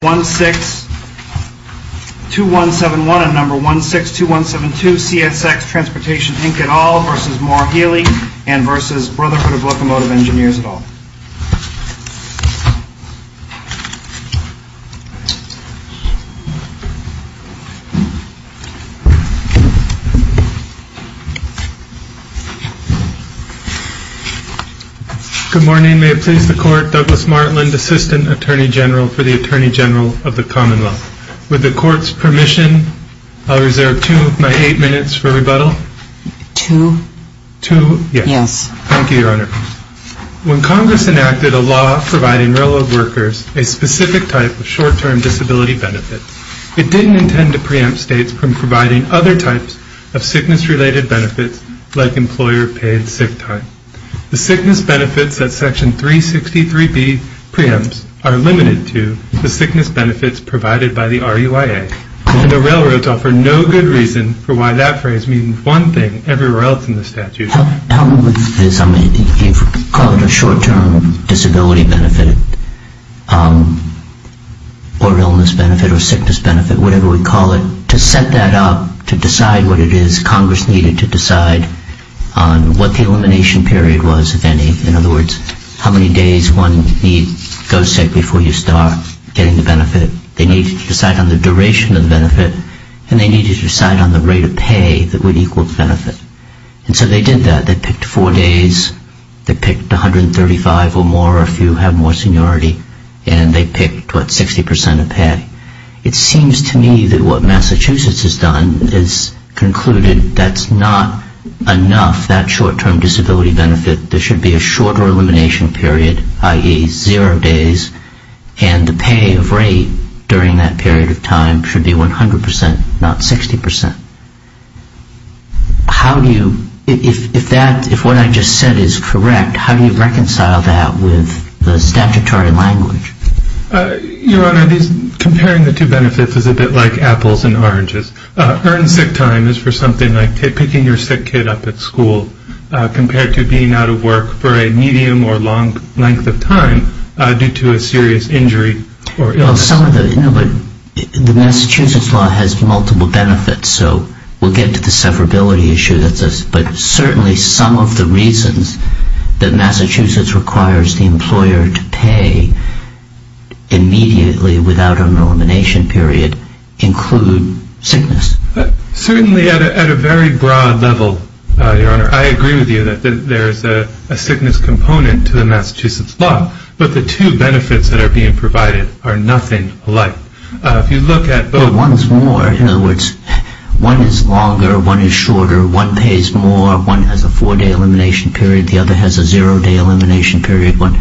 v. Brotherhood of Locomotive Engineers, et al. Good morning. May it please the Court, Douglas Martland, Assistant Attorney General for the Commonwealth. With the Court's permission, I'll reserve two of my eight minutes for rebuttal. When Congress enacted a law providing railroad workers a specific type of short-term disability benefit, it didn't intend to preempt states from providing other types of sickness-related benefits like employer-paid sick time. The sickness benefits that Section 363B preempts are limited to the sickness benefits provided by the RUIA, and the railroads offer no good reason for why that phrase means one thing everywhere else in the statute. How would this, I mean, you call it a short-term disability benefit or illness benefit or sickness benefit, whatever we call it, to set that up to decide what it is Congress needed to decide on what the elimination period was, if any, in other words, how many days one would need, go say, before you start getting the benefit. They needed to decide on the duration of the benefit, and they needed to decide on the rate of pay that would equal the benefit. And so they did that. They picked four days, they picked 135 or more, if you have more seniority, and they picked, what, 60 percent of pay. It seems to me that what Massachusetts has done is concluded that's not enough, that short-term disability benefit. There should be a shorter elimination period, i.e., zero days, and the pay of rate during that period of time should be 100 percent, not 60 percent. How do you, if that, if what I just said is correct, how do you reconcile that with the statutory language? Your Honor, comparing the two benefits is a bit like apples and oranges. Earned sick time is for something like picking your sick kid up at school, compared to being out of work for a medium or long length of time due to a serious injury or illness. Well, some of the, you know, but the Massachusetts law has multiple benefits, so we'll get to the severability issue, but certainly some of the reasons that Massachusetts requires the employer to pay immediately without an elimination period include sickness. Certainly at a very broad level, Your Honor, I agree with you that there is a sickness component to the Massachusetts law, but the two benefits that are being provided are nothing alike. If you look at both... But one is more. In other words, one is longer, one is shorter, one pays more, one has a four-day elimination period, the other has a zero-day elimination period. But,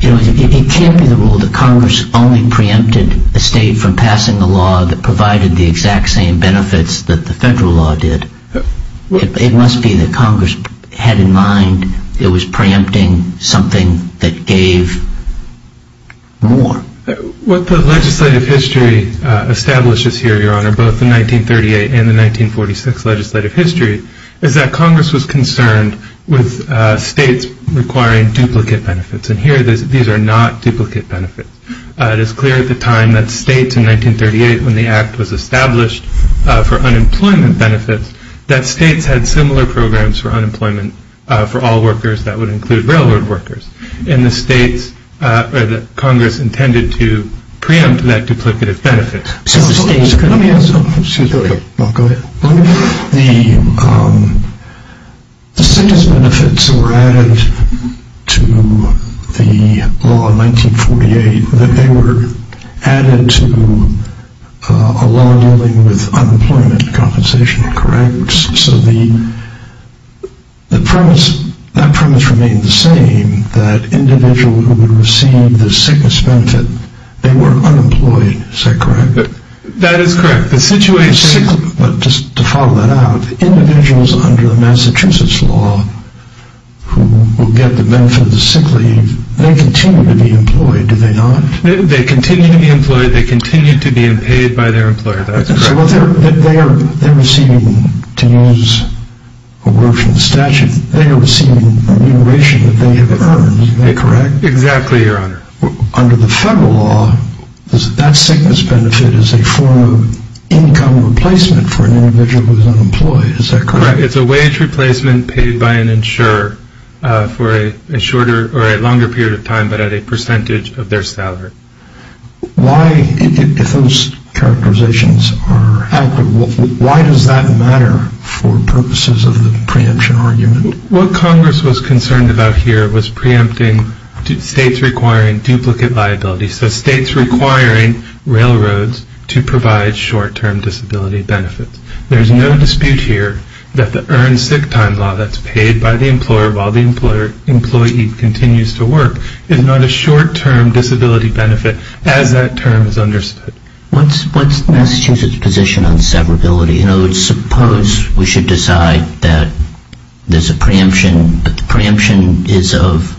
you know, it can't be the rule that Congress only preempted a state from passing a law that provided the exact same benefits that the federal law did. It must be that Congress had in mind it was preempting something that gave more. What the legislative history establishes here, Your Honor, both the 1938 and the 1946 legislative history, is that Congress was concerned with states requiring duplicate benefits. And here these are not duplicate benefits. It is clear at the time that states in 1938, when the Act was established for unemployment benefits, that states had similar programs for unemployment for all workers, that would include railroad workers. And the states, or that Congress intended to preempt that duplicative benefit. Excuse me. Go ahead. The sickness benefits that were added to the law in 1948, that they were added to a law dealing with unemployment compensation, correct? So that premise remained the same, that individuals who would receive the sickness benefit, they were unemployed. Is that correct? That is correct. The situation... But just to follow that out, individuals under the Massachusetts law who will get the benefit of the sick leave, they continue to be employed, do they not? They continue to be employed. They continue to be paid by their employer. That's correct. So they are receiving, to use a word from the statute, they are receiving remuneration that they have earned, is that correct? Exactly, Your Honor. Under the federal law, that sickness benefit is a form of income replacement for an individual who is unemployed, is that correct? It is a wage replacement paid by an insurer for a shorter or a longer period of time, but at a percentage of their salary. Why, if those characterizations are accurate, why does that matter for purposes of the preemption argument? What Congress was concerned about here was preempting states requiring duplicate liability, so states requiring railroads to provide short-term disability benefits. There is no dispute here that the earned sick time law that is paid by the employer while the employee continues to work is not a short-term disability benefit as that term is understood. What's Massachusetts' position on severability? Suppose we should decide that there is a preemption, but the preemption is of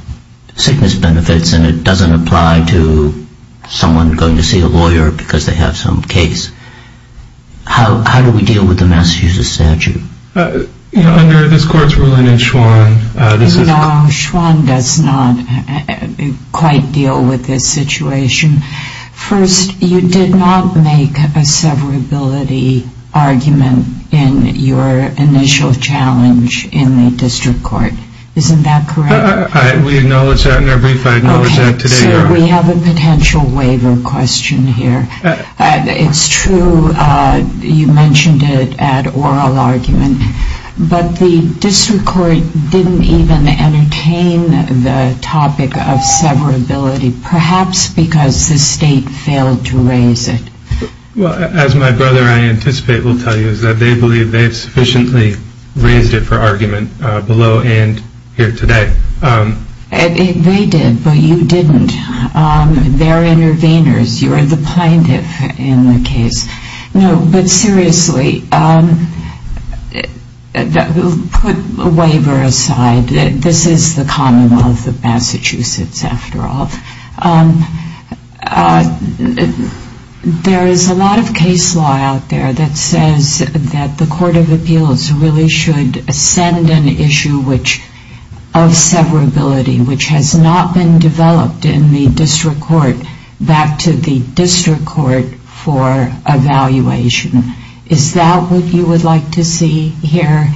sickness benefits and it doesn't apply to someone going to see a lawyer because they have some case. How do we deal with the Massachusetts statute? Under this Court's ruling in Schwann, this is... No, Schwann does not quite deal with this situation. First, you did not make a severability argument in your initial challenge in the district court. Isn't that correct? We acknowledge that in our brief. I acknowledge that today, Your Honor. Okay, so we have a potential waiver question here. It's true you mentioned it at oral argument, but the district court didn't even entertain the topic of severability, perhaps because the state failed to raise it. Well, as my brother, I anticipate, will tell you, is that they believe they've sufficiently raised it for argument below and here today. They did, but you didn't. They're interveners. You're the plaintiff in the case. No, but seriously, put the waiver aside. This is the commonwealth of Massachusetts, after all. There is a lot of case law out there that says that the Court of Appeals really should send an issue of severability, which has not been developed in the district court, back to the district court for evaluation. Is that what you would like to see here,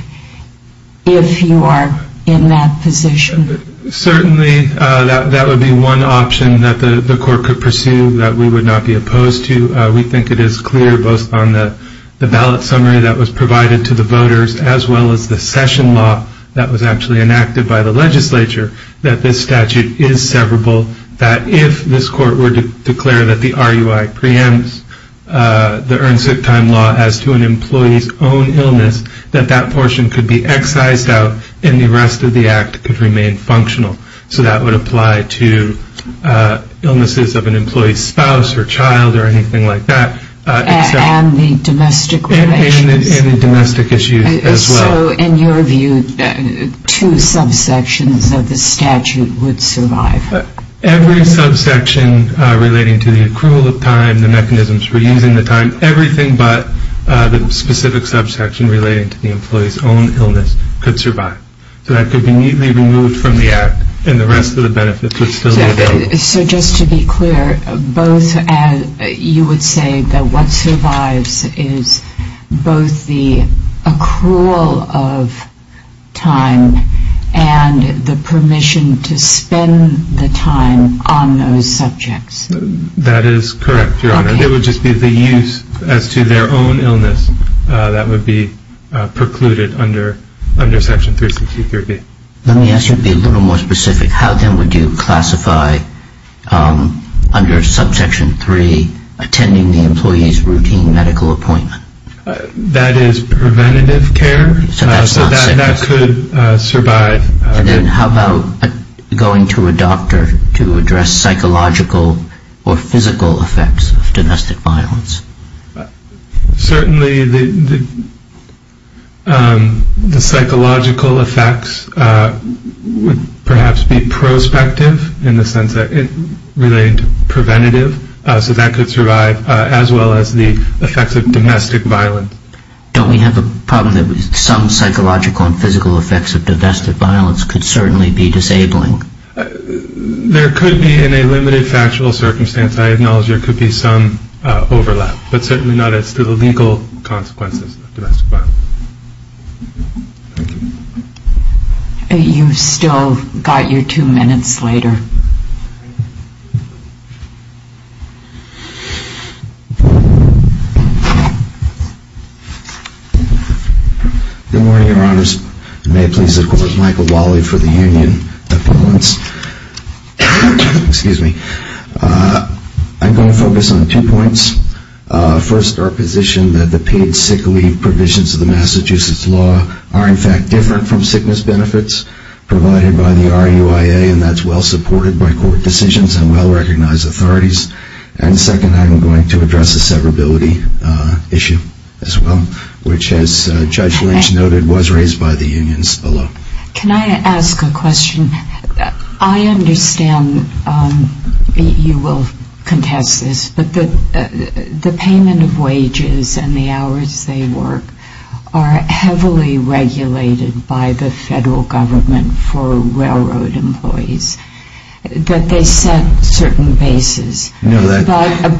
if you are in that position? Certainly, that would be one option that the court could pursue that we would not be opposed to. We think it is clear, both on the ballot summary that was provided to the voters, as well as the session law that was actually enacted by the legislature, that this statute is severable, that if this court were to declare that the RUI preempts the earned sick time law as to an employee's own illness, that that portion could be excised out and the rest of the act could remain functional. So that would apply to illnesses of an employee's spouse or child or anything like that. And the domestic relations. And the domestic issues as well. So in your view, two subsections of the statute would survive? Every subsection relating to the accrual of time, the mechanisms for using the time, everything but the specific subsection relating to the employee's own illness could survive. So that could be neatly removed from the act and the rest of the benefits would still be available. So just to be clear, you would say that what survives is both the accrual of time and the permission to spend the time on those subjects? That is correct, Your Honor. It would just be the use as to their own illness. That would be precluded under Section 3603B. Let me ask you to be a little more specific. How then would you classify under Subsection 3 attending the employee's routine medical appointment? That is preventative care. So that could survive. And then how about going to a doctor to address psychological or physical effects of domestic violence? Certainly the psychological effects would perhaps be prospective in the sense that it related to preventative. So that could survive as well as the effects of domestic violence. Don't we have a problem that some psychological and physical effects of domestic violence could certainly be disabling? There could be in a limited factual circumstance. I acknowledge there could be some overlap, but certainly not as to the legal consequences of domestic violence. Thank you. You've still got your two minutes later. Good morning, Your Honors. May it please the Court. Michael Wally for the Union. Excuse me. I'm going to focus on two points. First, our position that the paid sick leave provisions of the Massachusetts law are in fact different from sickness benefits provided by the RUIA, and that's well-supported by court decisions and well-recognized authorities. And second, I'm going to address the severability issue as well, which, as Judge Lynch noted, was raised by the unions below. Can I ask a question? I understand you will contest this, but the payment of wages and the hours they work are heavily regulated by the federal government for railroad employees, that they set certain bases, but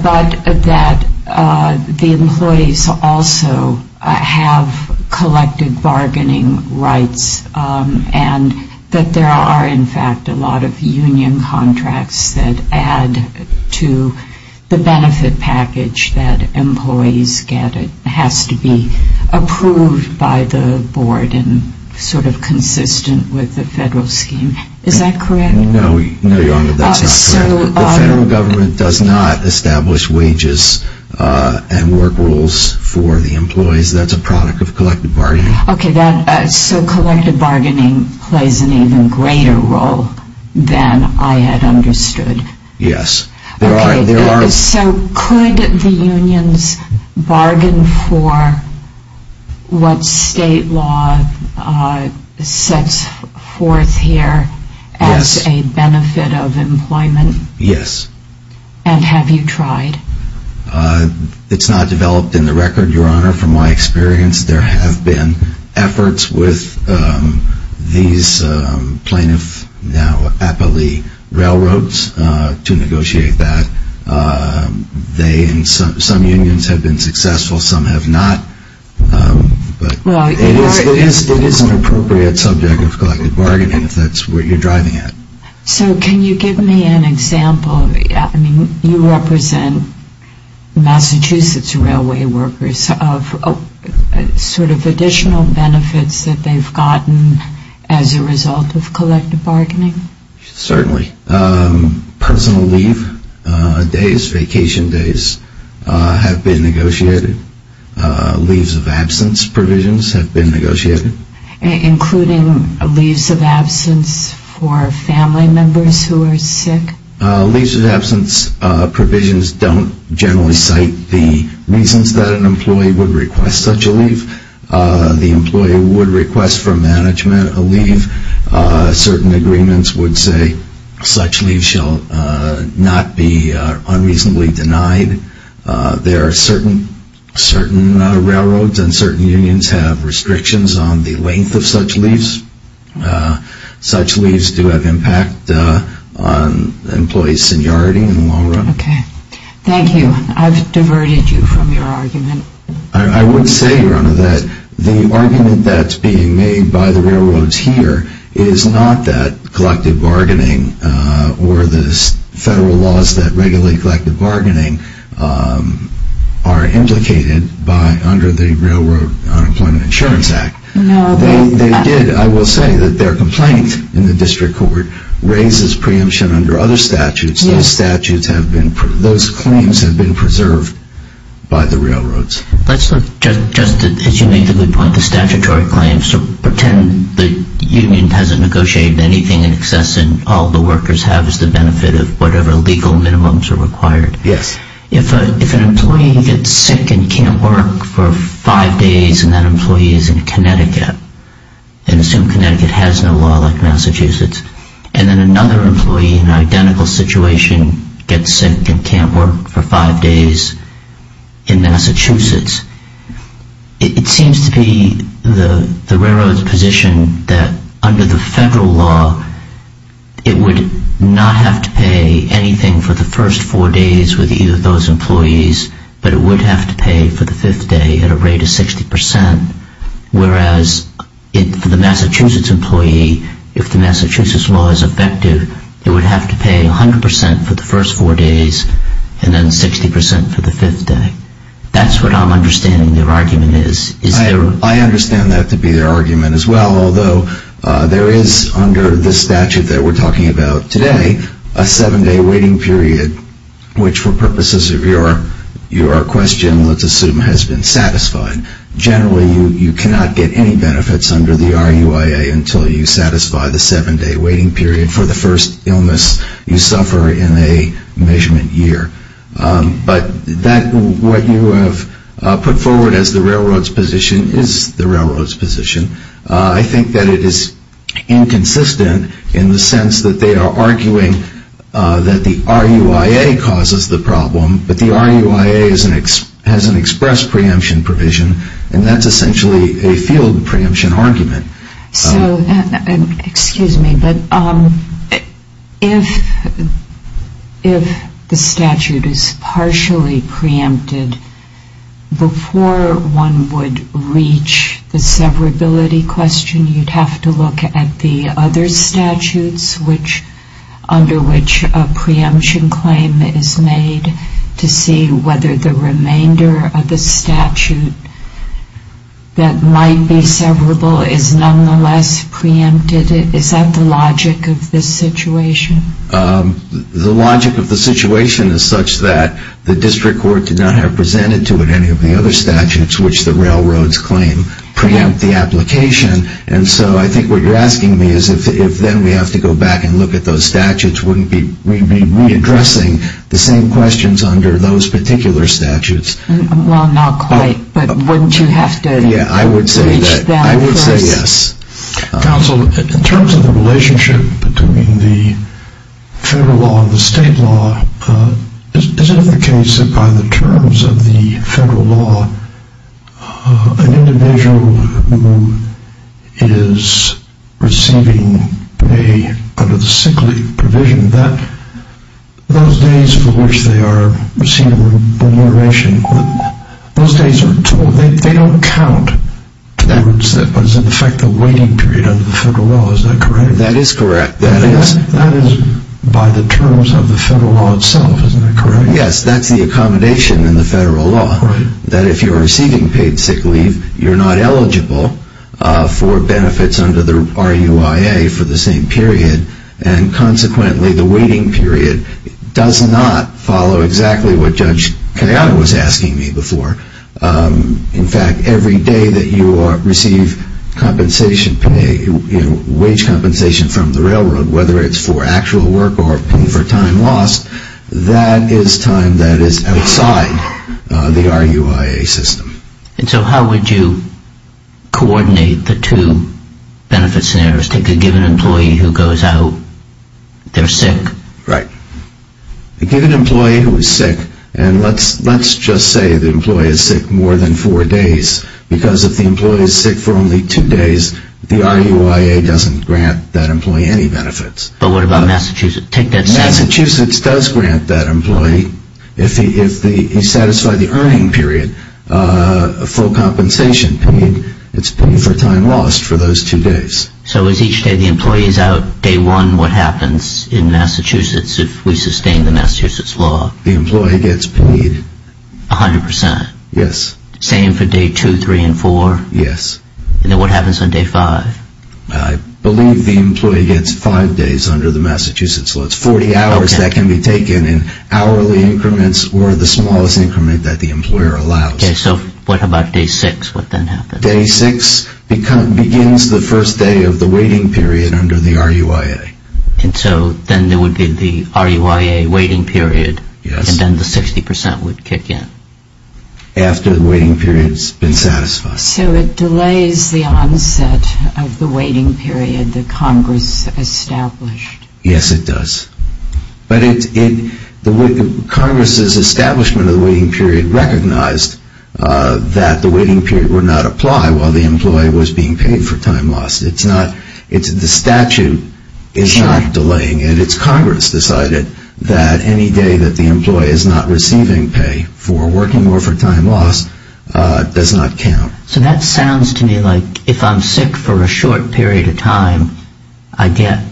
that the employees also have collected bargaining rights and that there are in fact a lot of union contracts that add to the benefit package that employees get. It has to be approved by the board and sort of consistent with the federal scheme. Is that correct? No, Your Honor, that's not correct. The federal government does not establish wages and work rules for the employees. That's a product of collected bargaining. Okay, so collected bargaining plays an even greater role than I had understood. Yes. So could the unions bargain for what state law sets forth here as a benefit of employment? Yes. And have you tried? It's not developed in the record, Your Honor, from my experience. There have been efforts with these plaintiffs now at the railroads to negotiate that. Some unions have been successful, some have not. But it is an appropriate subject of collected bargaining if that's what you're driving at. So can you give me an example? You represent Massachusetts Railway workers. Sort of additional benefits that they've gotten as a result of collected bargaining? Certainly. Personal leave days, vacation days have been negotiated. Leaves of absence provisions have been negotiated. Including leaves of absence for family members who are sick? Leaves of absence provisions don't generally cite the reasons that an employee would request such a leave. The employee would request from management a leave. Certain agreements would say such leaves shall not be unreasonably denied. There are certain railroads and certain unions have restrictions on the length of such leaves. Such leaves do have impact on employees' seniority in the long run. Okay. Thank you. I've diverted you from your argument. I would say, Your Honor, that the argument that's being made by the railroads here is not that collected bargaining or the federal laws that regulate collected bargaining are implicated under the Railroad Unemployment Insurance Act. No, they're not. They did. I will say that their complaint in the district court raises preemption under other statutes. Those statutes have been – those claims have been preserved by the railroads. Let's look, just as you made the good point, the statutory claims. So pretend the union hasn't negotiated anything in excess and all the workers have is the benefit of whatever legal minimums are required. Yes. If an employee gets sick and can't work for five days and that employee is in Connecticut, and assume Connecticut has no law like Massachusetts, and then another employee in an identical situation gets sick and can't work for five days in Massachusetts, it seems to be the railroad's position that under the federal law it would not have to pay anything for the first four days with either of those employees, but it would have to pay for the fifth day at a rate of 60%, whereas for the Massachusetts employee, if the Massachusetts law is effective, it would have to pay 100% for the first four days and then 60% for the fifth day. That's what I'm understanding their argument is. I understand that to be their argument as well, although there is under the statute that we're talking about today a seven-day waiting period, which for purposes of your question, let's assume, has been satisfied. Generally, you cannot get any benefits under the RUIA until you satisfy the seven-day waiting period for the first illness you suffer in a measurement year. But what you have put forward as the railroad's position is the railroad's position. I think that it is inconsistent in the sense that they are arguing that the RUIA causes the problem, but the RUIA has an express preemption provision, and that's essentially a field preemption argument. So, excuse me, but if the statute is partially preempted, before one would reach the severability question, you'd have to look at the other statutes under which a preemption claim is made to see whether the remainder of the statute that might be severable is nonetheless preempted. Is that the logic of this situation? The logic of the situation is such that the district court did not have presented to it any of the other statutes which the railroads claim preempt the application, and so I think what you're asking me is if then we have to go back and look at those statutes, wouldn't we be readdressing the same questions under those particular statutes? Well, not quite, but wouldn't you have to reach them first? Yeah, I would say yes. Counsel, in terms of the relationship between the federal law and the state law, is it the case that by the terms of the federal law, an individual who is receiving pay under the sick leave provision, those days for which they are receiving remuneration, they don't count towards what is in effect the waiting period under the federal law, is that correct? That is correct. That is by the terms of the federal law itself, isn't that correct? Yes, that's the accommodation in the federal law, that if you're receiving paid sick leave, you're not eligible for benefits under the RUIA for the same period, and consequently the waiting period does not follow exactly what Judge Kayano was asking me before. In fact, every day that you receive compensation pay, wage compensation from the railroad, whether it's for actual work or for time lost, that is time that is outside the RUIA system. And so how would you coordinate the two benefit scenarios? Take a given employee who goes out, they're sick. Right. A given employee who is sick, and let's just say the employee is sick more than four days, because if the employee is sick for only two days, the RUIA doesn't grant that employee any benefits. But what about Massachusetts? Massachusetts does grant that employee, if he satisfied the earning period, full compensation paid, it's paid for time lost for those two days. So is each day the employee is out, day one, what happens in Massachusetts if we sustain the Massachusetts law? The employee gets paid. 100%? Yes. Same for day two, three, and four? Yes. And then what happens on day five? I believe the employee gets five days under the Massachusetts law. It's 40 hours that can be taken in hourly increments or the smallest increment that the employer allows. Okay, so what about day six, what then happens? Day six begins the first day of the waiting period under the RUIA. And so then there would be the RUIA waiting period, and then the 60% would kick in. After the waiting period has been satisfied. So it delays the onset of the waiting period that Congress established. Yes, it does. But Congress's establishment of the waiting period recognized that the waiting period would not apply while the employee was being paid for time lost. The statute is not delaying it. It's Congress decided that any day that the employee is not receiving pay for working or for time loss does not count. So that sounds to me like if I'm sick for a short period of time, I get,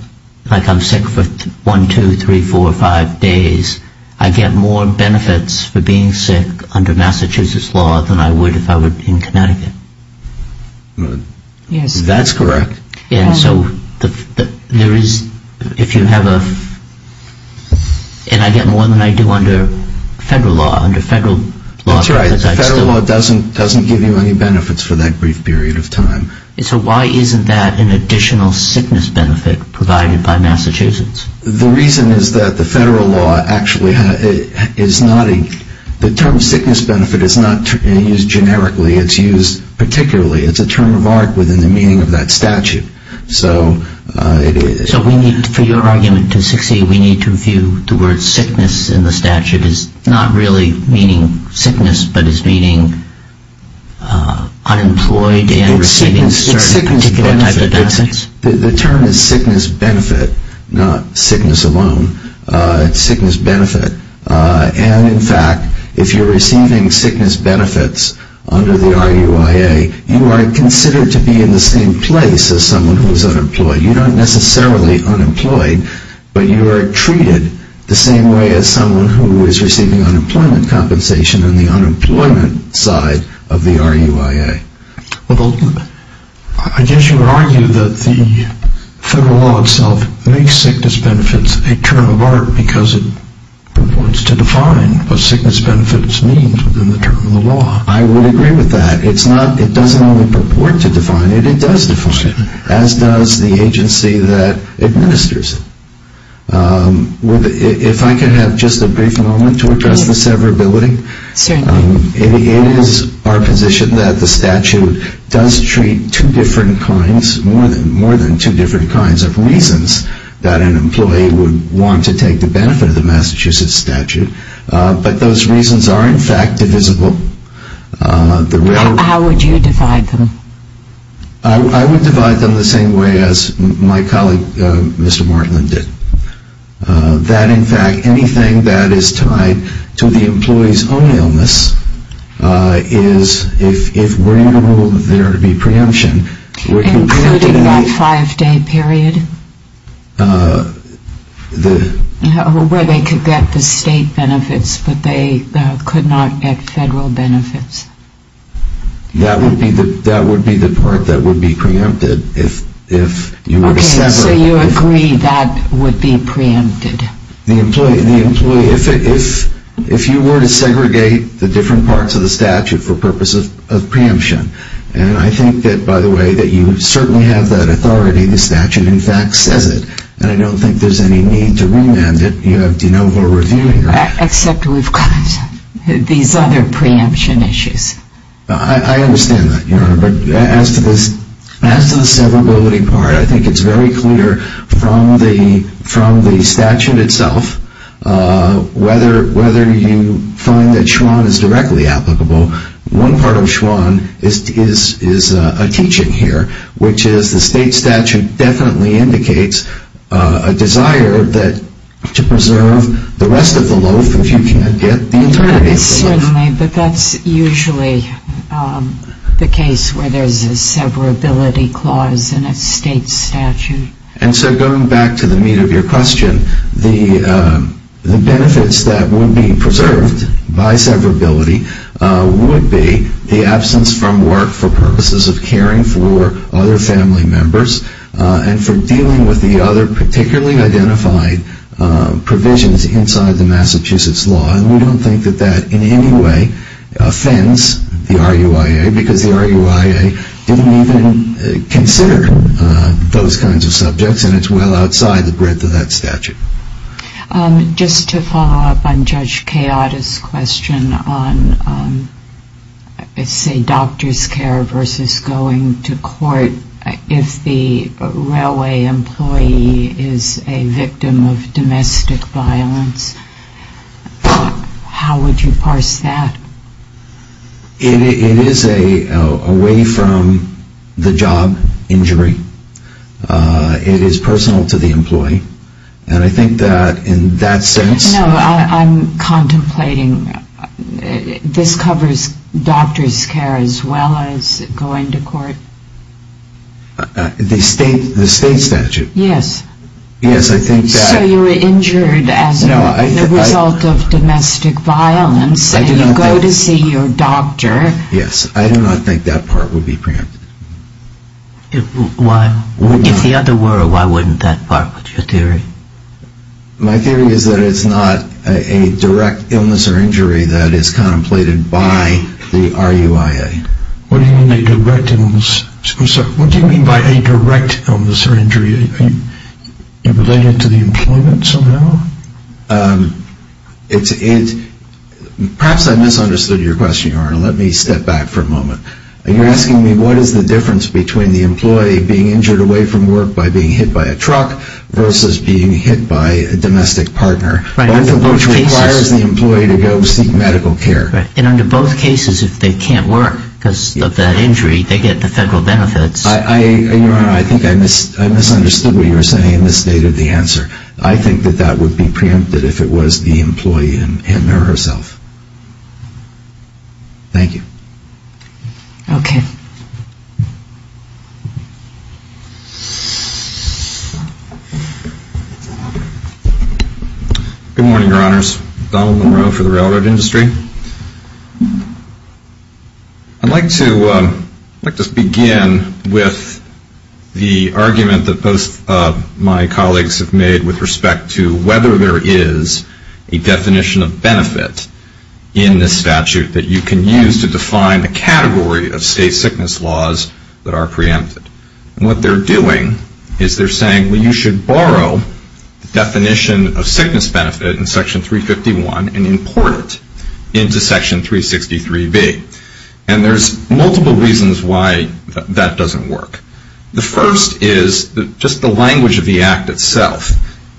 like I'm sick for one, two, three, four, five days, I get more benefits for being sick under Massachusetts law than I would if I were in Connecticut. Yes. That's correct. And so there is, if you have a, and I get more than I do under federal law, under federal law. That's right. Federal law doesn't give you any benefits for that brief period of time. So why isn't that an additional sickness benefit provided by Massachusetts? The reason is that the federal law actually is not a, the term sickness benefit is not used generically, it's used particularly, it's a term of art within the meaning of that statute. So it is. So we need, for your argument to succeed, we need to view the word sickness in the statute as not really meaning sickness, but as meaning unemployed and receiving certain particular type of benefits? The term is sickness benefit, not sickness alone. It's sickness benefit. And, in fact, if you're receiving sickness benefits under the RUIA, you are considered to be in the same place as someone who is unemployed. You're not necessarily unemployed, but you are treated the same way as someone who is receiving unemployment compensation on the unemployment side of the RUIA. I guess you would argue that the federal law itself makes sickness benefits a term of art because it wants to define what sickness benefits means within the term of the law. I would agree with that. It's not, it doesn't only purport to define it, it does define it, as does the agency that administers it. If I could have just a brief moment to address the severability. Certainly. It is our position that the statute does treat two different kinds, more than two different kinds of reasons that an employee would want to take the benefit of the Massachusetts statute, but those reasons are, in fact, divisible. How would you divide them? I would divide them the same way as my colleague, Mr. Martland, did. That, in fact, anything that is tied to the employee's own illness is, if we're able there to be preemption... Including that five-day period? Where they could get the state benefits, but they could not get federal benefits. That would be the part that would be preempted if you were to sever... So you agree that would be preempted? The employee, if you were to segregate the different parts of the statute for purposes of preemption, and I think that, by the way, that you certainly have that authority, the statute, in fact, says it, and I don't think there's any need to remand it. You have de novo reviewing it. Except we've got these other preemption issues. I understand that, Your Honor, but as to the severability part, I think it's very clear from the statute itself whether you find that Schwan is directly applicable. One part of Schwan is a teaching here, which is the state statute definitely indicates a desire to preserve the rest of the loaf if you can't get the entirety of the loaf. Certainly, but that's usually the case where there's a severability clause and a state statute. And so going back to the meat of your question, the benefits that would be preserved by severability would be the absence from work for purposes of caring for other family members and for dealing with the other particularly identified provisions inside the Massachusetts law, and we don't think that that in any way offends the RUIA because the RUIA didn't even consider those kinds of subjects and it's well outside the breadth of that statute. Just to follow up on Judge Kayada's question on, say, doctor's care versus going to court, if the railway employee is a victim of domestic violence, how would you parse that? It is away from the job injury. It is personal to the employee. And I think that in that sense... No, I'm contemplating this covers doctor's care as well as going to court. The state statute. Yes. Yes, I think that... So you were injured as a result of domestic violence and you go to see your doctor. Yes, I do not think that part would be preempted. If the other were, why wouldn't that part be your theory? My theory is that it's not a direct illness or injury that is contemplated by the RUIA. What do you mean by a direct illness or injury? Related to the employment somehow? Perhaps I misunderstood your question, Your Honor. Let me step back for a moment. You're asking me what is the difference between the employee being injured away from work by being hit by a truck versus being hit by a domestic partner, both of which requires the employee to go seek medical care. And under both cases, if they can't work because of that injury, they get the federal benefits. Your Honor, I think I misunderstood what you were saying in this state of the answer. I think that that would be preempted if it was the employee in there herself. Thank you. Okay. Good morning, Your Honors. Donald Monroe for the railroad industry. Thank you. I'd like to begin with the argument that both of my colleagues have made with respect to whether there is a definition of benefit in this statute that you can use to define the category of state sickness laws that are preempted. And what they're doing is they're saying, well, you should borrow the definition of sickness benefit in Section 351 and import it into Section 363B. And there's multiple reasons why that doesn't work. The first is just the language of the Act itself.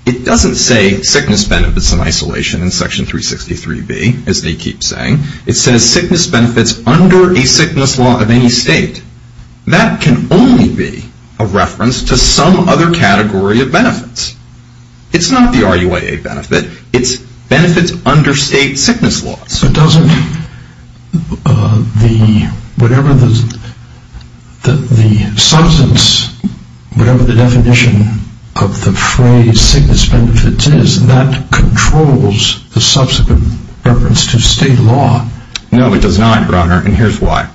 It doesn't say sickness benefits in isolation in Section 363B, as they keep saying. It says sickness benefits under a sickness law of any state. That can only be a reference to some other category of benefits. It's not the RUAA benefit. It's benefits under state sickness laws. But doesn't the substance, whatever the definition of the phrase sickness benefits is, that controls the subsequent reference to state law? No, it does not, Your Honor, and here's why.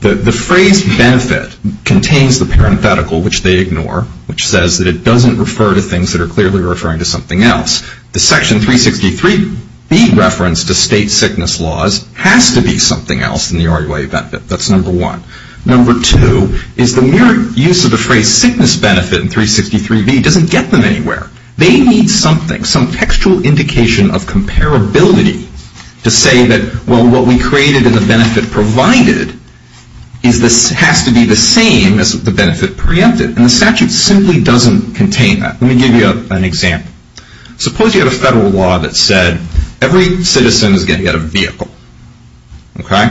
The phrase benefit contains the parenthetical, which they ignore, which says that it doesn't refer to things that are clearly referring to something else. The Section 363B reference to state sickness laws has to be something else than the RUAA benefit. That's number one. Number two is the mere use of the phrase sickness benefit in 363B doesn't get them anywhere. They need something, some textual indication of comparability to say that, well, what we created in the benefit provided has to be the same as the benefit preempted, and the statute simply doesn't contain that. Let me give you an example. Suppose you have a federal law that said every citizen is going to get a vehicle, okay?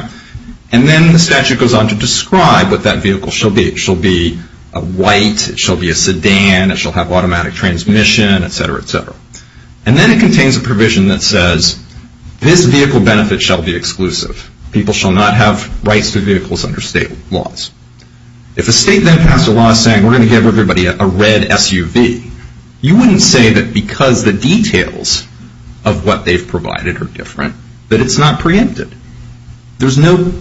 And then the statute goes on to describe what that vehicle shall be. It shall be a white. It shall be a sedan. It shall have automatic transmission, et cetera, et cetera. And then it contains a provision that says this vehicle benefit shall be exclusive. People shall not have rights to vehicles under state laws. If a state then passed a law saying we're going to give everybody a red SUV, you wouldn't say that because the details of what they've provided are different that it's not preempted. There's no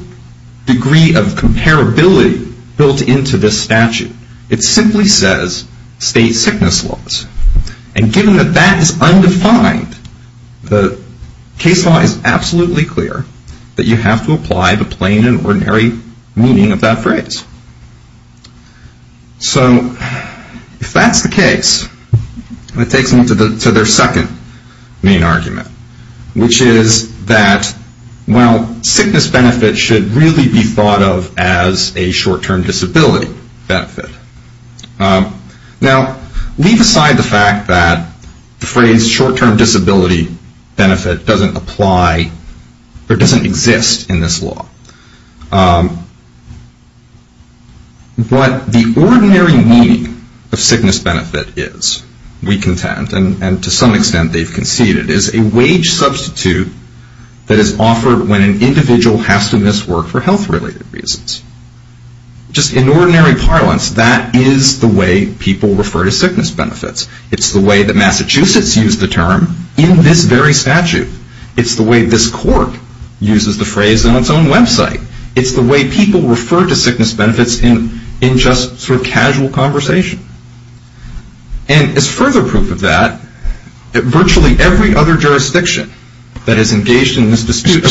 degree of comparability built into this statute. It simply says state sickness laws. And given that that is undefined, the case law is absolutely clear that you have to apply the plain and ordinary meaning of that phrase. So if that's the case, it takes me to their second main argument, which is that, well, sickness benefits should really be thought of as a short-term disability benefit. Now, leave aside the fact that the phrase short-term disability benefit doesn't apply or doesn't exist in this law. What the ordinary meaning of sickness benefit is, we contend, and to some extent they've conceded, is a wage substitute that is offered when an individual has to miss work for health-related reasons. Just in ordinary parlance, that is the way people refer to sickness benefits. It's the way that Massachusetts used the term in this very statute. It's the way this court uses the phrase on its own website. It's the way people refer to sickness benefits in just sort of casual conversation. And as further proof of that, virtually every other jurisdiction that has engaged in this dispute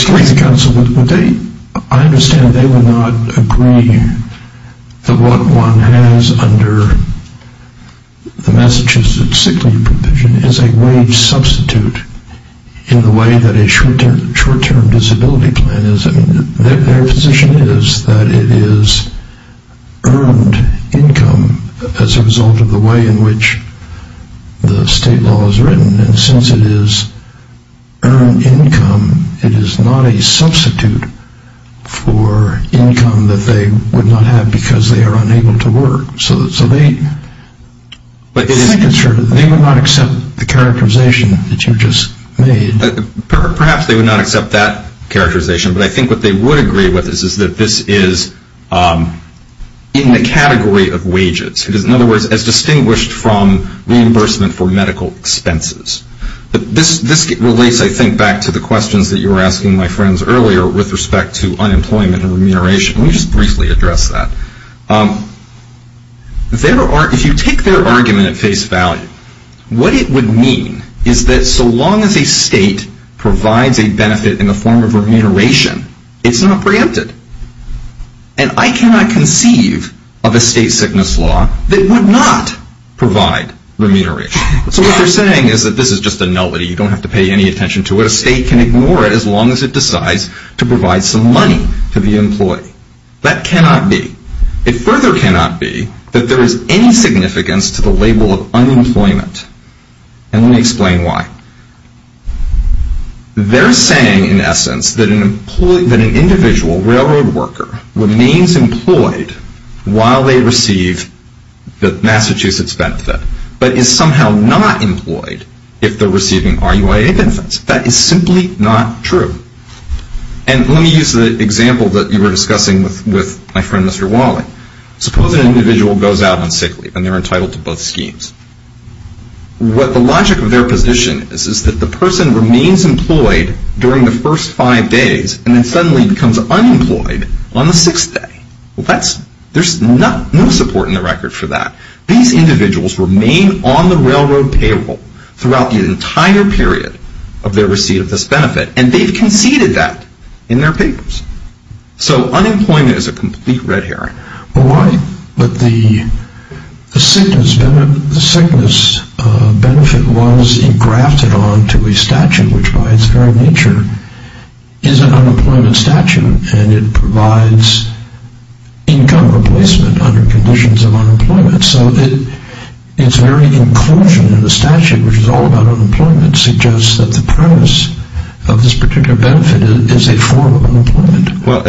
I understand they would not agree that what one has under the Massachusetts sick leave provision is a wage substitute in the way that a short-term disability plan is. Their position is that it is earned income as a result of the way in which the state law is written. And since it is earned income, it is not a substitute for income that they would not have because they are unable to work. So they would not accept the characterization that you just made. Perhaps they would not accept that characterization, but I think what they would agree with is that this is in the category of wages. In other words, as distinguished from reimbursement for medical expenses. This relates, I think, back to the questions that you were asking my friends earlier with respect to unemployment and remuneration. Let me just briefly address that. If you take their argument at face value, what it would mean is that so long as a state provides a benefit in the form of remuneration, it's not preempted. And I cannot conceive of a state sickness law that would not provide remuneration. So what they're saying is that this is just a nullity. You don't have to pay any attention to it. A state can ignore it as long as it decides to provide some money to the employee. That cannot be. It further cannot be that there is any significance to the label of unemployment. And let me explain why. They're saying, in essence, that an individual railroad worker remains employed while they receive the Massachusetts benefit, but is somehow not employed if they're receiving RUIA benefits. That is simply not true. And let me use the example that you were discussing with my friend, Mr. Wally. Suppose an individual goes out unsickly and they're entitled to both schemes. What the logic of their position is is that the person remains employed during the first five days and then suddenly becomes unemployed on the sixth day. There's no support in the record for that. These individuals remain on the railroad payroll throughout the entire period of their receipt of this benefit, and they've conceded that in their papers. So unemployment is a complete red herring. But the sickness benefit was engrafted onto a statute, which by its very nature is an unemployment statute, and it provides income replacement under conditions of unemployment. So its very inclusion in the statute, which is all about unemployment, suggests that the premise of this particular benefit is a form of unemployment. Well,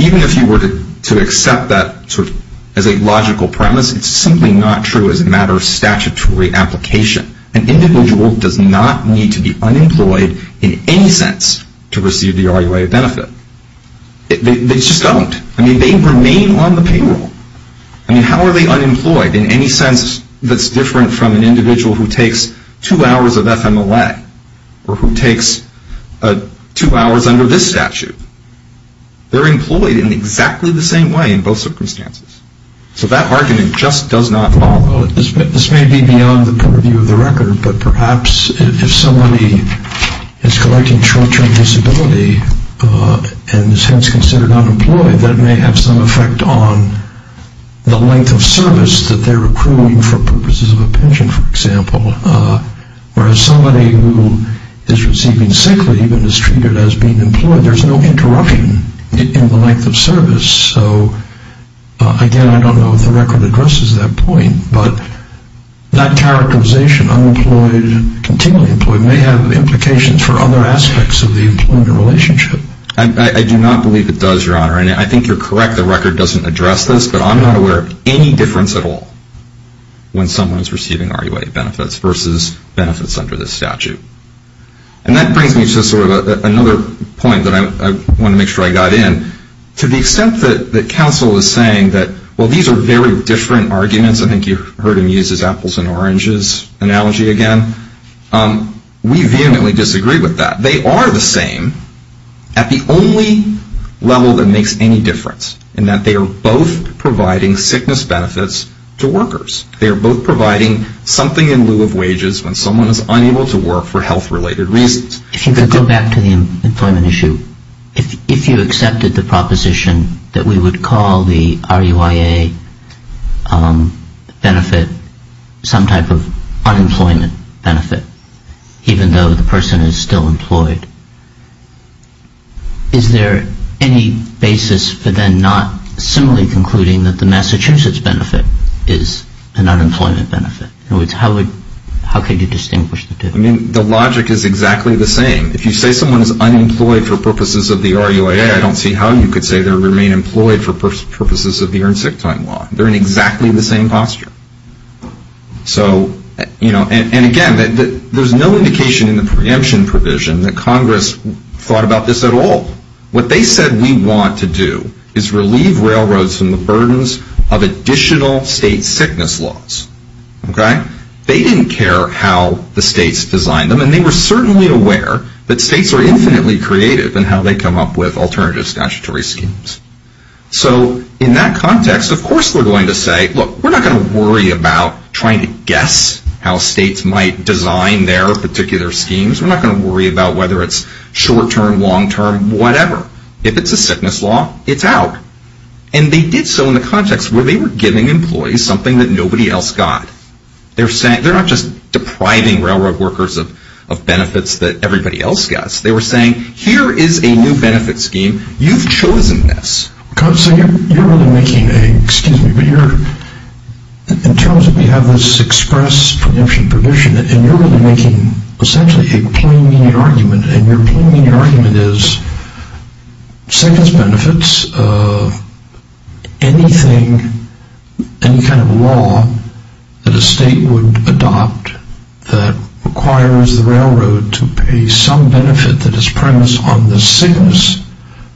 even if you were to accept that as a logical premise, it's simply not true as a matter of statutory application. An individual does not need to be unemployed in any sense to receive the RUIA benefit. They just don't. I mean, they remain on the payroll. I mean, how are they unemployed in any sense that's different from an individual who takes two hours of FMLA or who takes two hours under this statute? They're employed in exactly the same way in both circumstances. So that argument just does not follow. This may be beyond the purview of the record, but perhaps if somebody is collecting short-term disability and is hence considered unemployed, that may have some effect on the length of service that they're accruing for purposes of a pension, for example, whereas somebody who is receiving sick leave and is treated as being employed, there's no interruption in the length of service. So, again, I don't know if the record addresses that point, but that characterization, unemployed, continually employed, may have implications for other aspects of the employment relationship. I do not believe it does, Your Honor, and I think you're correct. The record doesn't address this, but I'm not aware of any difference at all when someone is receiving RUA benefits versus benefits under this statute. And that brings me to sort of another point that I want to make sure I got in. To the extent that counsel is saying that, well, these are very different arguments. I think you heard him use his apples and oranges analogy again. We vehemently disagree with that. They are the same at the only level that makes any difference in that they are both providing sickness benefits to workers. They are both providing something in lieu of wages when someone is unable to work for health-related reasons. If you could go back to the employment issue, if you accepted the proposition that we would call the RUIA benefit some type of unemployment benefit, even though the person is still employed, is there any basis for then not similarly concluding that the Massachusetts benefit is an unemployment benefit? In other words, how could you distinguish the two? I mean, the logic is exactly the same. If you say someone is unemployed for purposes of the RUIA, I don't see how you could say they remain employed for purposes of the earned sick time law. They are in exactly the same posture. Again, there is no indication in the preemption provision that Congress thought about this at all. What they said we want to do is relieve railroads from the burdens of additional state sickness laws. They didn't care how the states designed them, and they were certainly aware that states are infinitely creative in how they come up with alternative statutory schemes. So, in that context, of course they are going to say, look, we are not going to worry about trying to guess how states might design their particular schemes. We are not going to worry about whether it is short term, long term, whatever. If it is a sickness law, it is out. And they did so in the context where they were giving employees something that nobody else got. They are not just depriving railroad workers of benefits that everybody else gets. They were saying, here is a new benefit scheme. You have chosen this. So, you are really making a, excuse me, but in terms that we have this express preemption provision, and you are really making essentially a plain meaning argument, and your plain meaning argument is sickness benefits, anything, any kind of law that a state would adopt that requires the railroad to pay some benefit that is premised on the sickness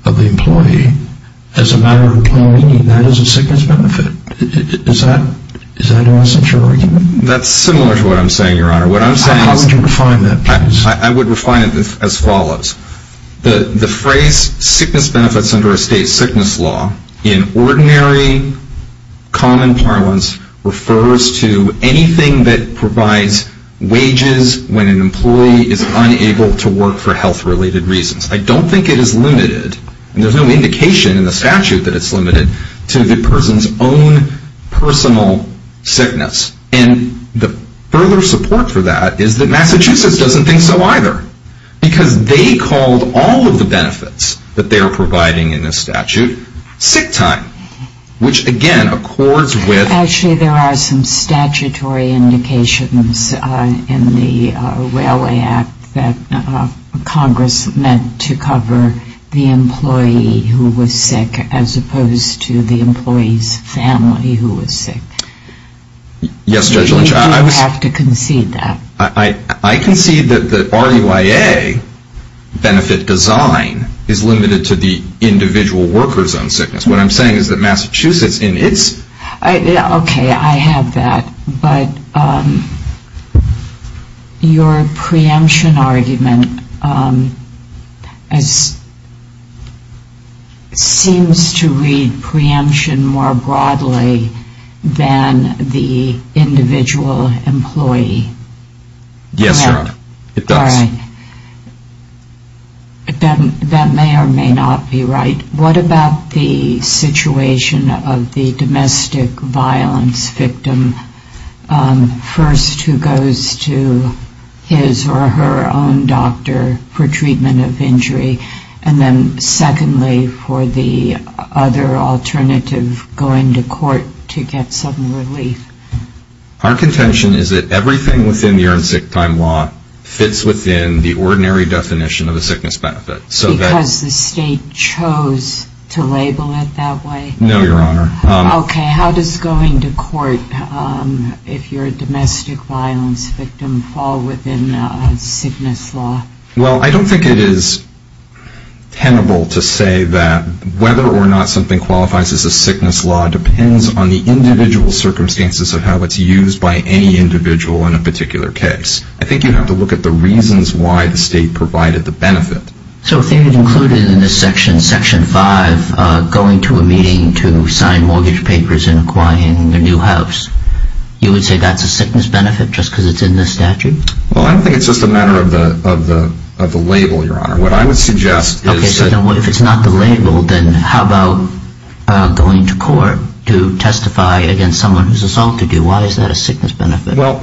of the employee, as a matter of plain meaning, that is a sickness benefit. Is that an essential argument? That is similar to what I am saying, Your Honor. How would you refine that, please? I would refine it as follows. The phrase sickness benefits under a state sickness law, in ordinary common parlance, refers to anything that provides wages when an employee is unable to work for health-related reasons. I don't think it is limited, and there is no indication in the statute that it is limited, to the person's own personal sickness. And the further support for that is that Massachusetts doesn't think so either. Because they called all of the benefits that they are providing in the statute, sick time, which again accords with... the Railway Act that Congress meant to cover the employee who was sick, as opposed to the employee's family who was sick. Yes, Judge Lynch, I was... Do you have to concede that? I concede that the RUIA benefit design is limited to the individual worker's own sickness. What I am saying is that Massachusetts in its... Okay, I have that. But your preemption argument seems to read preemption more broadly than the individual employee. Yes, it does. All right. That may or may not be right. What about the situation of the domestic violence victim, first who goes to his or her own doctor for treatment of injury, and then secondly for the other alternative, going to court to get some relief? Our contention is that everything within the Urine Sick Time Law fits within the ordinary definition of a sickness benefit. Because the state chose to label it that way? No, Your Honor. Okay, how does going to court, if you're a domestic violence victim, fall within a sickness law? Well, I don't think it is tenable to say that whether or not something qualifies as a sickness law depends on the individual circumstances of how it's used by any individual in a particular case. I think you have to look at the reasons why the state provided the benefit. So if they had included in this section, Section 5, going to a meeting to sign mortgage papers and acquiring a new house, you would say that's a sickness benefit just because it's in the statute? Well, I don't think it's just a matter of the label, Your Honor. What I would suggest is that... Okay, so if it's not the label, then how about going to court to testify against someone who's assaulted you? Why is that a sickness benefit? Well,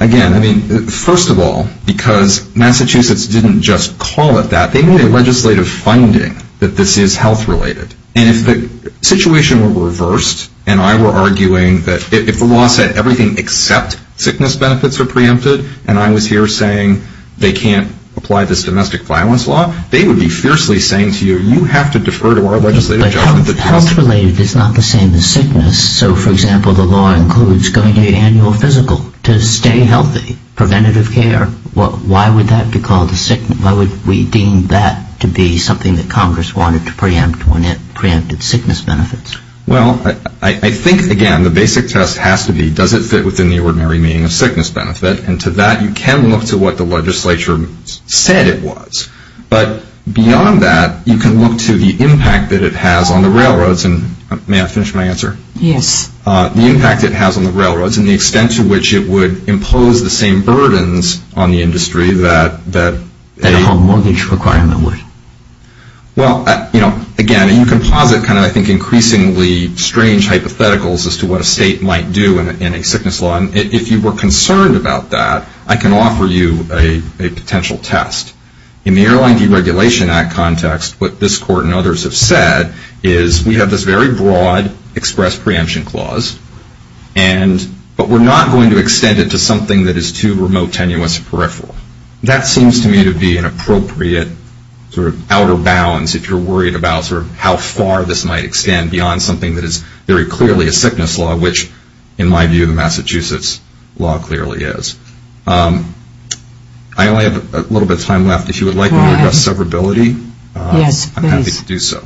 again, I mean, first of all, because Massachusetts didn't just call it that. They made a legislative finding that this is health-related. And if the situation were reversed and I were arguing that if the law said everything except sickness benefits are preempted and I was here saying they can't apply this domestic violence law, they would be fiercely saying to you, you have to defer to our legislative judgment... But health-related is not the same as sickness. So, for example, the law includes going to annual physical to stay healthy, preventative care. Why would that be called a sickness? Why would we deem that to be something that Congress wanted to preempt when it preempted sickness benefits? Well, I think, again, the basic test has to be does it fit within the ordinary meaning of sickness benefit? And to that, you can look to what the legislature said it was. But beyond that, you can look to the impact that it has on the railroads. And may I finish my answer? Yes. The impact it has on the railroads and the extent to which it would impose the same burdens on the industry that... That a home mortgage requirement would. Well, again, you can posit kind of, I think, increasingly strange hypotheticals as to what a state might do in a sickness law. And if you were concerned about that, I can offer you a potential test. In the Airline Deregulation Act context, what this Court and others have said is we have this very broad express preemption clause, but we're not going to extend it to something that is too remote, tenuous, or peripheral. That seems to me to be an appropriate sort of outer bounds if you're worried about sort of how far this might extend beyond something that is very clearly a sickness law, which in my view, the Massachusetts law clearly is. I only have a little bit of time left. If you would like me to address severability... Yes, please. I'm happy to do so.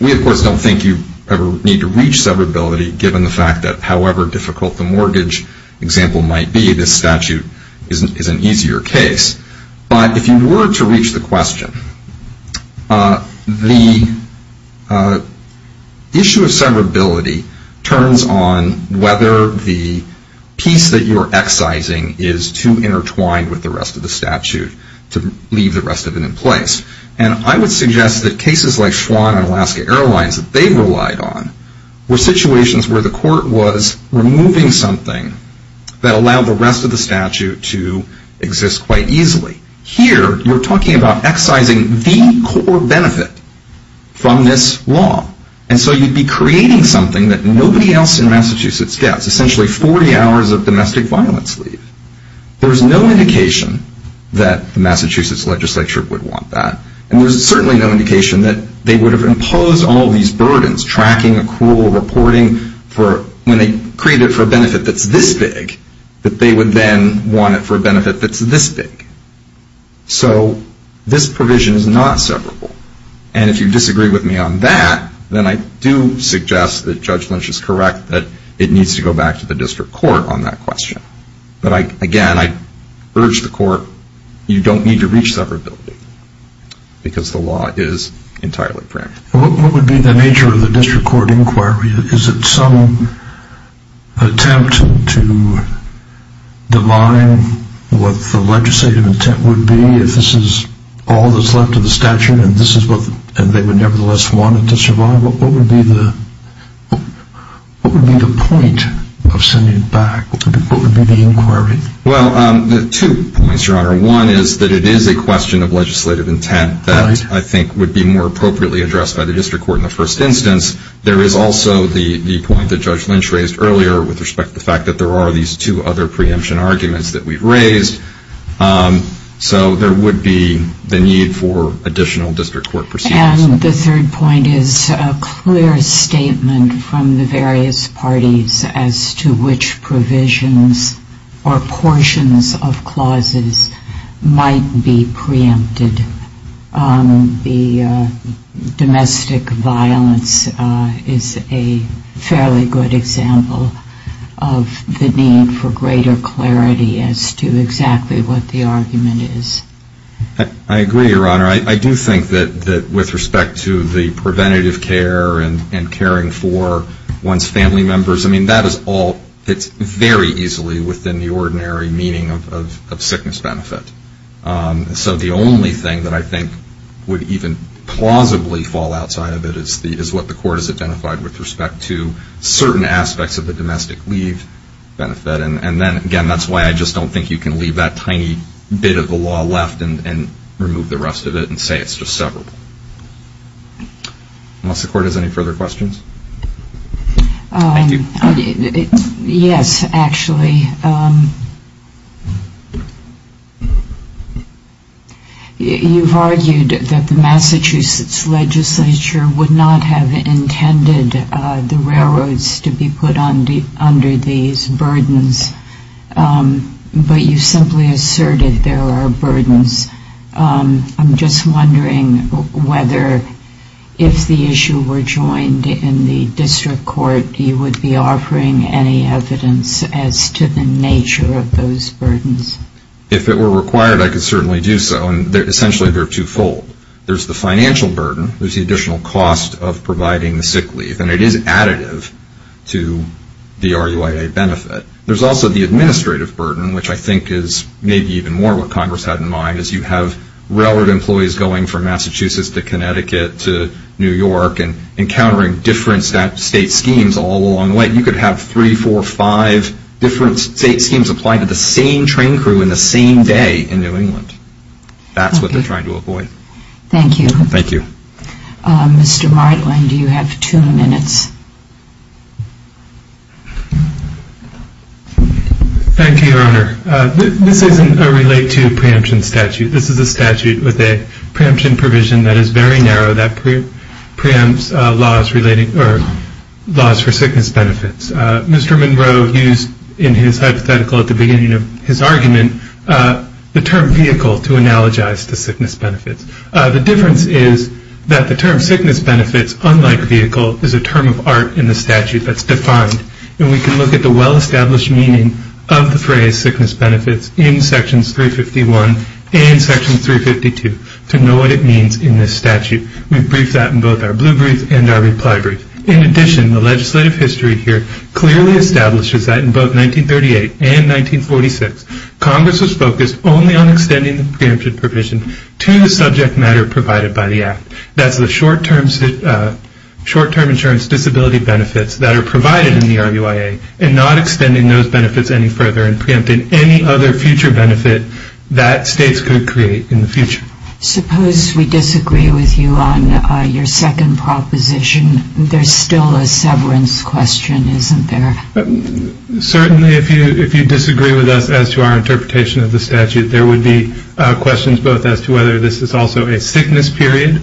We, of course, don't think you ever need to reach severability given the fact that however difficult the mortgage example might be, this statute is an easier case. But if you were to reach the question, the issue of severability turns on whether the piece that you're excising is too intertwined with the rest of the statute to leave the rest of it in place. And I would suggest that cases like Schwann and Alaska Airlines that they relied on were situations where the Court was removing something that allowed the rest of the statute to exist quite easily. Here, you're talking about excising the core benefit from this law. And so you'd be creating something that nobody else in Massachusetts gets, essentially 40 hours of domestic violence leave. There's no indication that the Massachusetts legislature would want that. And there's certainly no indication that they would have imposed all these burdens, tracking, accrual, reporting, when they create it for a benefit that's this big, that they would then want it for a benefit that's this big. So this provision is not severable. And if you disagree with me on that, then I do suggest that Judge Lynch is correct that it needs to go back to the district court on that question. But, again, I urge the Court, you don't need to reach severability because the law is entirely practical. What would be the nature of the district court inquiry? Is it some attempt to divine what the legislative intent would be if this is all that's left of the statute and they would nevertheless want it to survive? What would be the point of sending it back? What would be the inquiry? Well, two points, Your Honor. One is that it is a question of legislative intent that I think would be more appropriately addressed by the district court in the first instance. There is also the point that Judge Lynch raised earlier with respect to the fact that there are these two other preemption arguments that we've raised. So there would be the need for additional district court proceedings. And the third point is a clear statement from the various parties as to which provisions or portions of clauses might be preempted. The domestic violence is a fairly good example of the need for greater clarity as to exactly what the argument is. I agree, Your Honor. I do think that with respect to the preventative care and caring for one's family members, I mean that is all very easily within the ordinary meaning of sickness benefit. So the only thing that I think would even plausibly fall outside of it is what the court has identified with respect to certain aspects of the domestic leave benefit. And then, again, that's why I just don't think you can leave that tiny bit of the law left and remove the rest of it and say it's just severable. Unless the court has any further questions. Thank you. Yes, actually. You've argued that the Massachusetts legislature would not have intended the railroads to be put under these burdens, but you simply asserted there are burdens. I'm just wondering whether if the issue were joined in the district court, you would be offering any evidence as to the nature of those burdens. If it were required, I could certainly do so. Essentially, they're twofold. There's the financial burden. There's the additional cost of providing the sick leave, and it is additive to the RUIA benefit. There's also the administrative burden, which I think is maybe even more what Congress had in mind, as you have railroad employees going from Massachusetts to Connecticut to New York and encountering different state schemes all along the way. You could have three, four, five different state schemes applied to the same train crew in the same day in New England. That's what they're trying to avoid. Thank you. Thank you. Mr. Martland, you have two minutes. Thank you, Your Honor. This isn't a relate-to-preemption statute. This is a statute with a preemption provision that is very narrow that preempts laws relating or laws for sickness benefits. Mr. Monroe used in his hypothetical at the beginning of his argument the term vehicle to analogize to sickness benefits. The difference is that the term sickness benefits, unlike vehicle, is a term of art in the statute that's defined, and we can look at the well-established meaning of the phrase sickness benefits in sections 351 and section 352 to know what it means in this statute. We've briefed that in both our blue brief and our reply brief. In addition, the legislative history here clearly establishes that in both 1938 and 1946, Congress was focused only on extending the preemption provision to the subject matter provided by the Act. That's the short-term insurance disability benefits that are provided in the RUIA and not extending those benefits any further and preempting any other future benefit that states could create in the future. Suppose we disagree with you on your second proposition. There's still a severance question, isn't there? Certainly, if you disagree with us as to our interpretation of the statute, there would be questions both as to whether this is also a sickness period,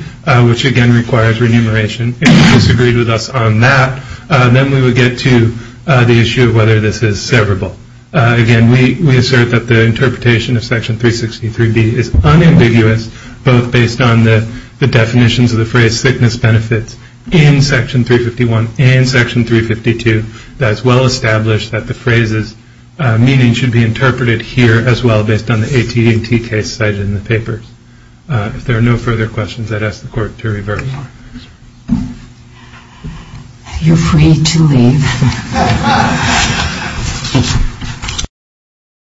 which, again, requires remuneration. If you disagreed with us on that, then we would get to the issue of whether this is severable. Again, we assert that the interpretation of section 363B is unambiguous, both based on the definitions of the phrase sickness benefits in section 351 and section 352, that it's well-established that the phrase's meaning should be interpreted here as well based on the AT&T case cited in the papers. If there are no further questions, I'd ask the Court to reverse. You're free to leave.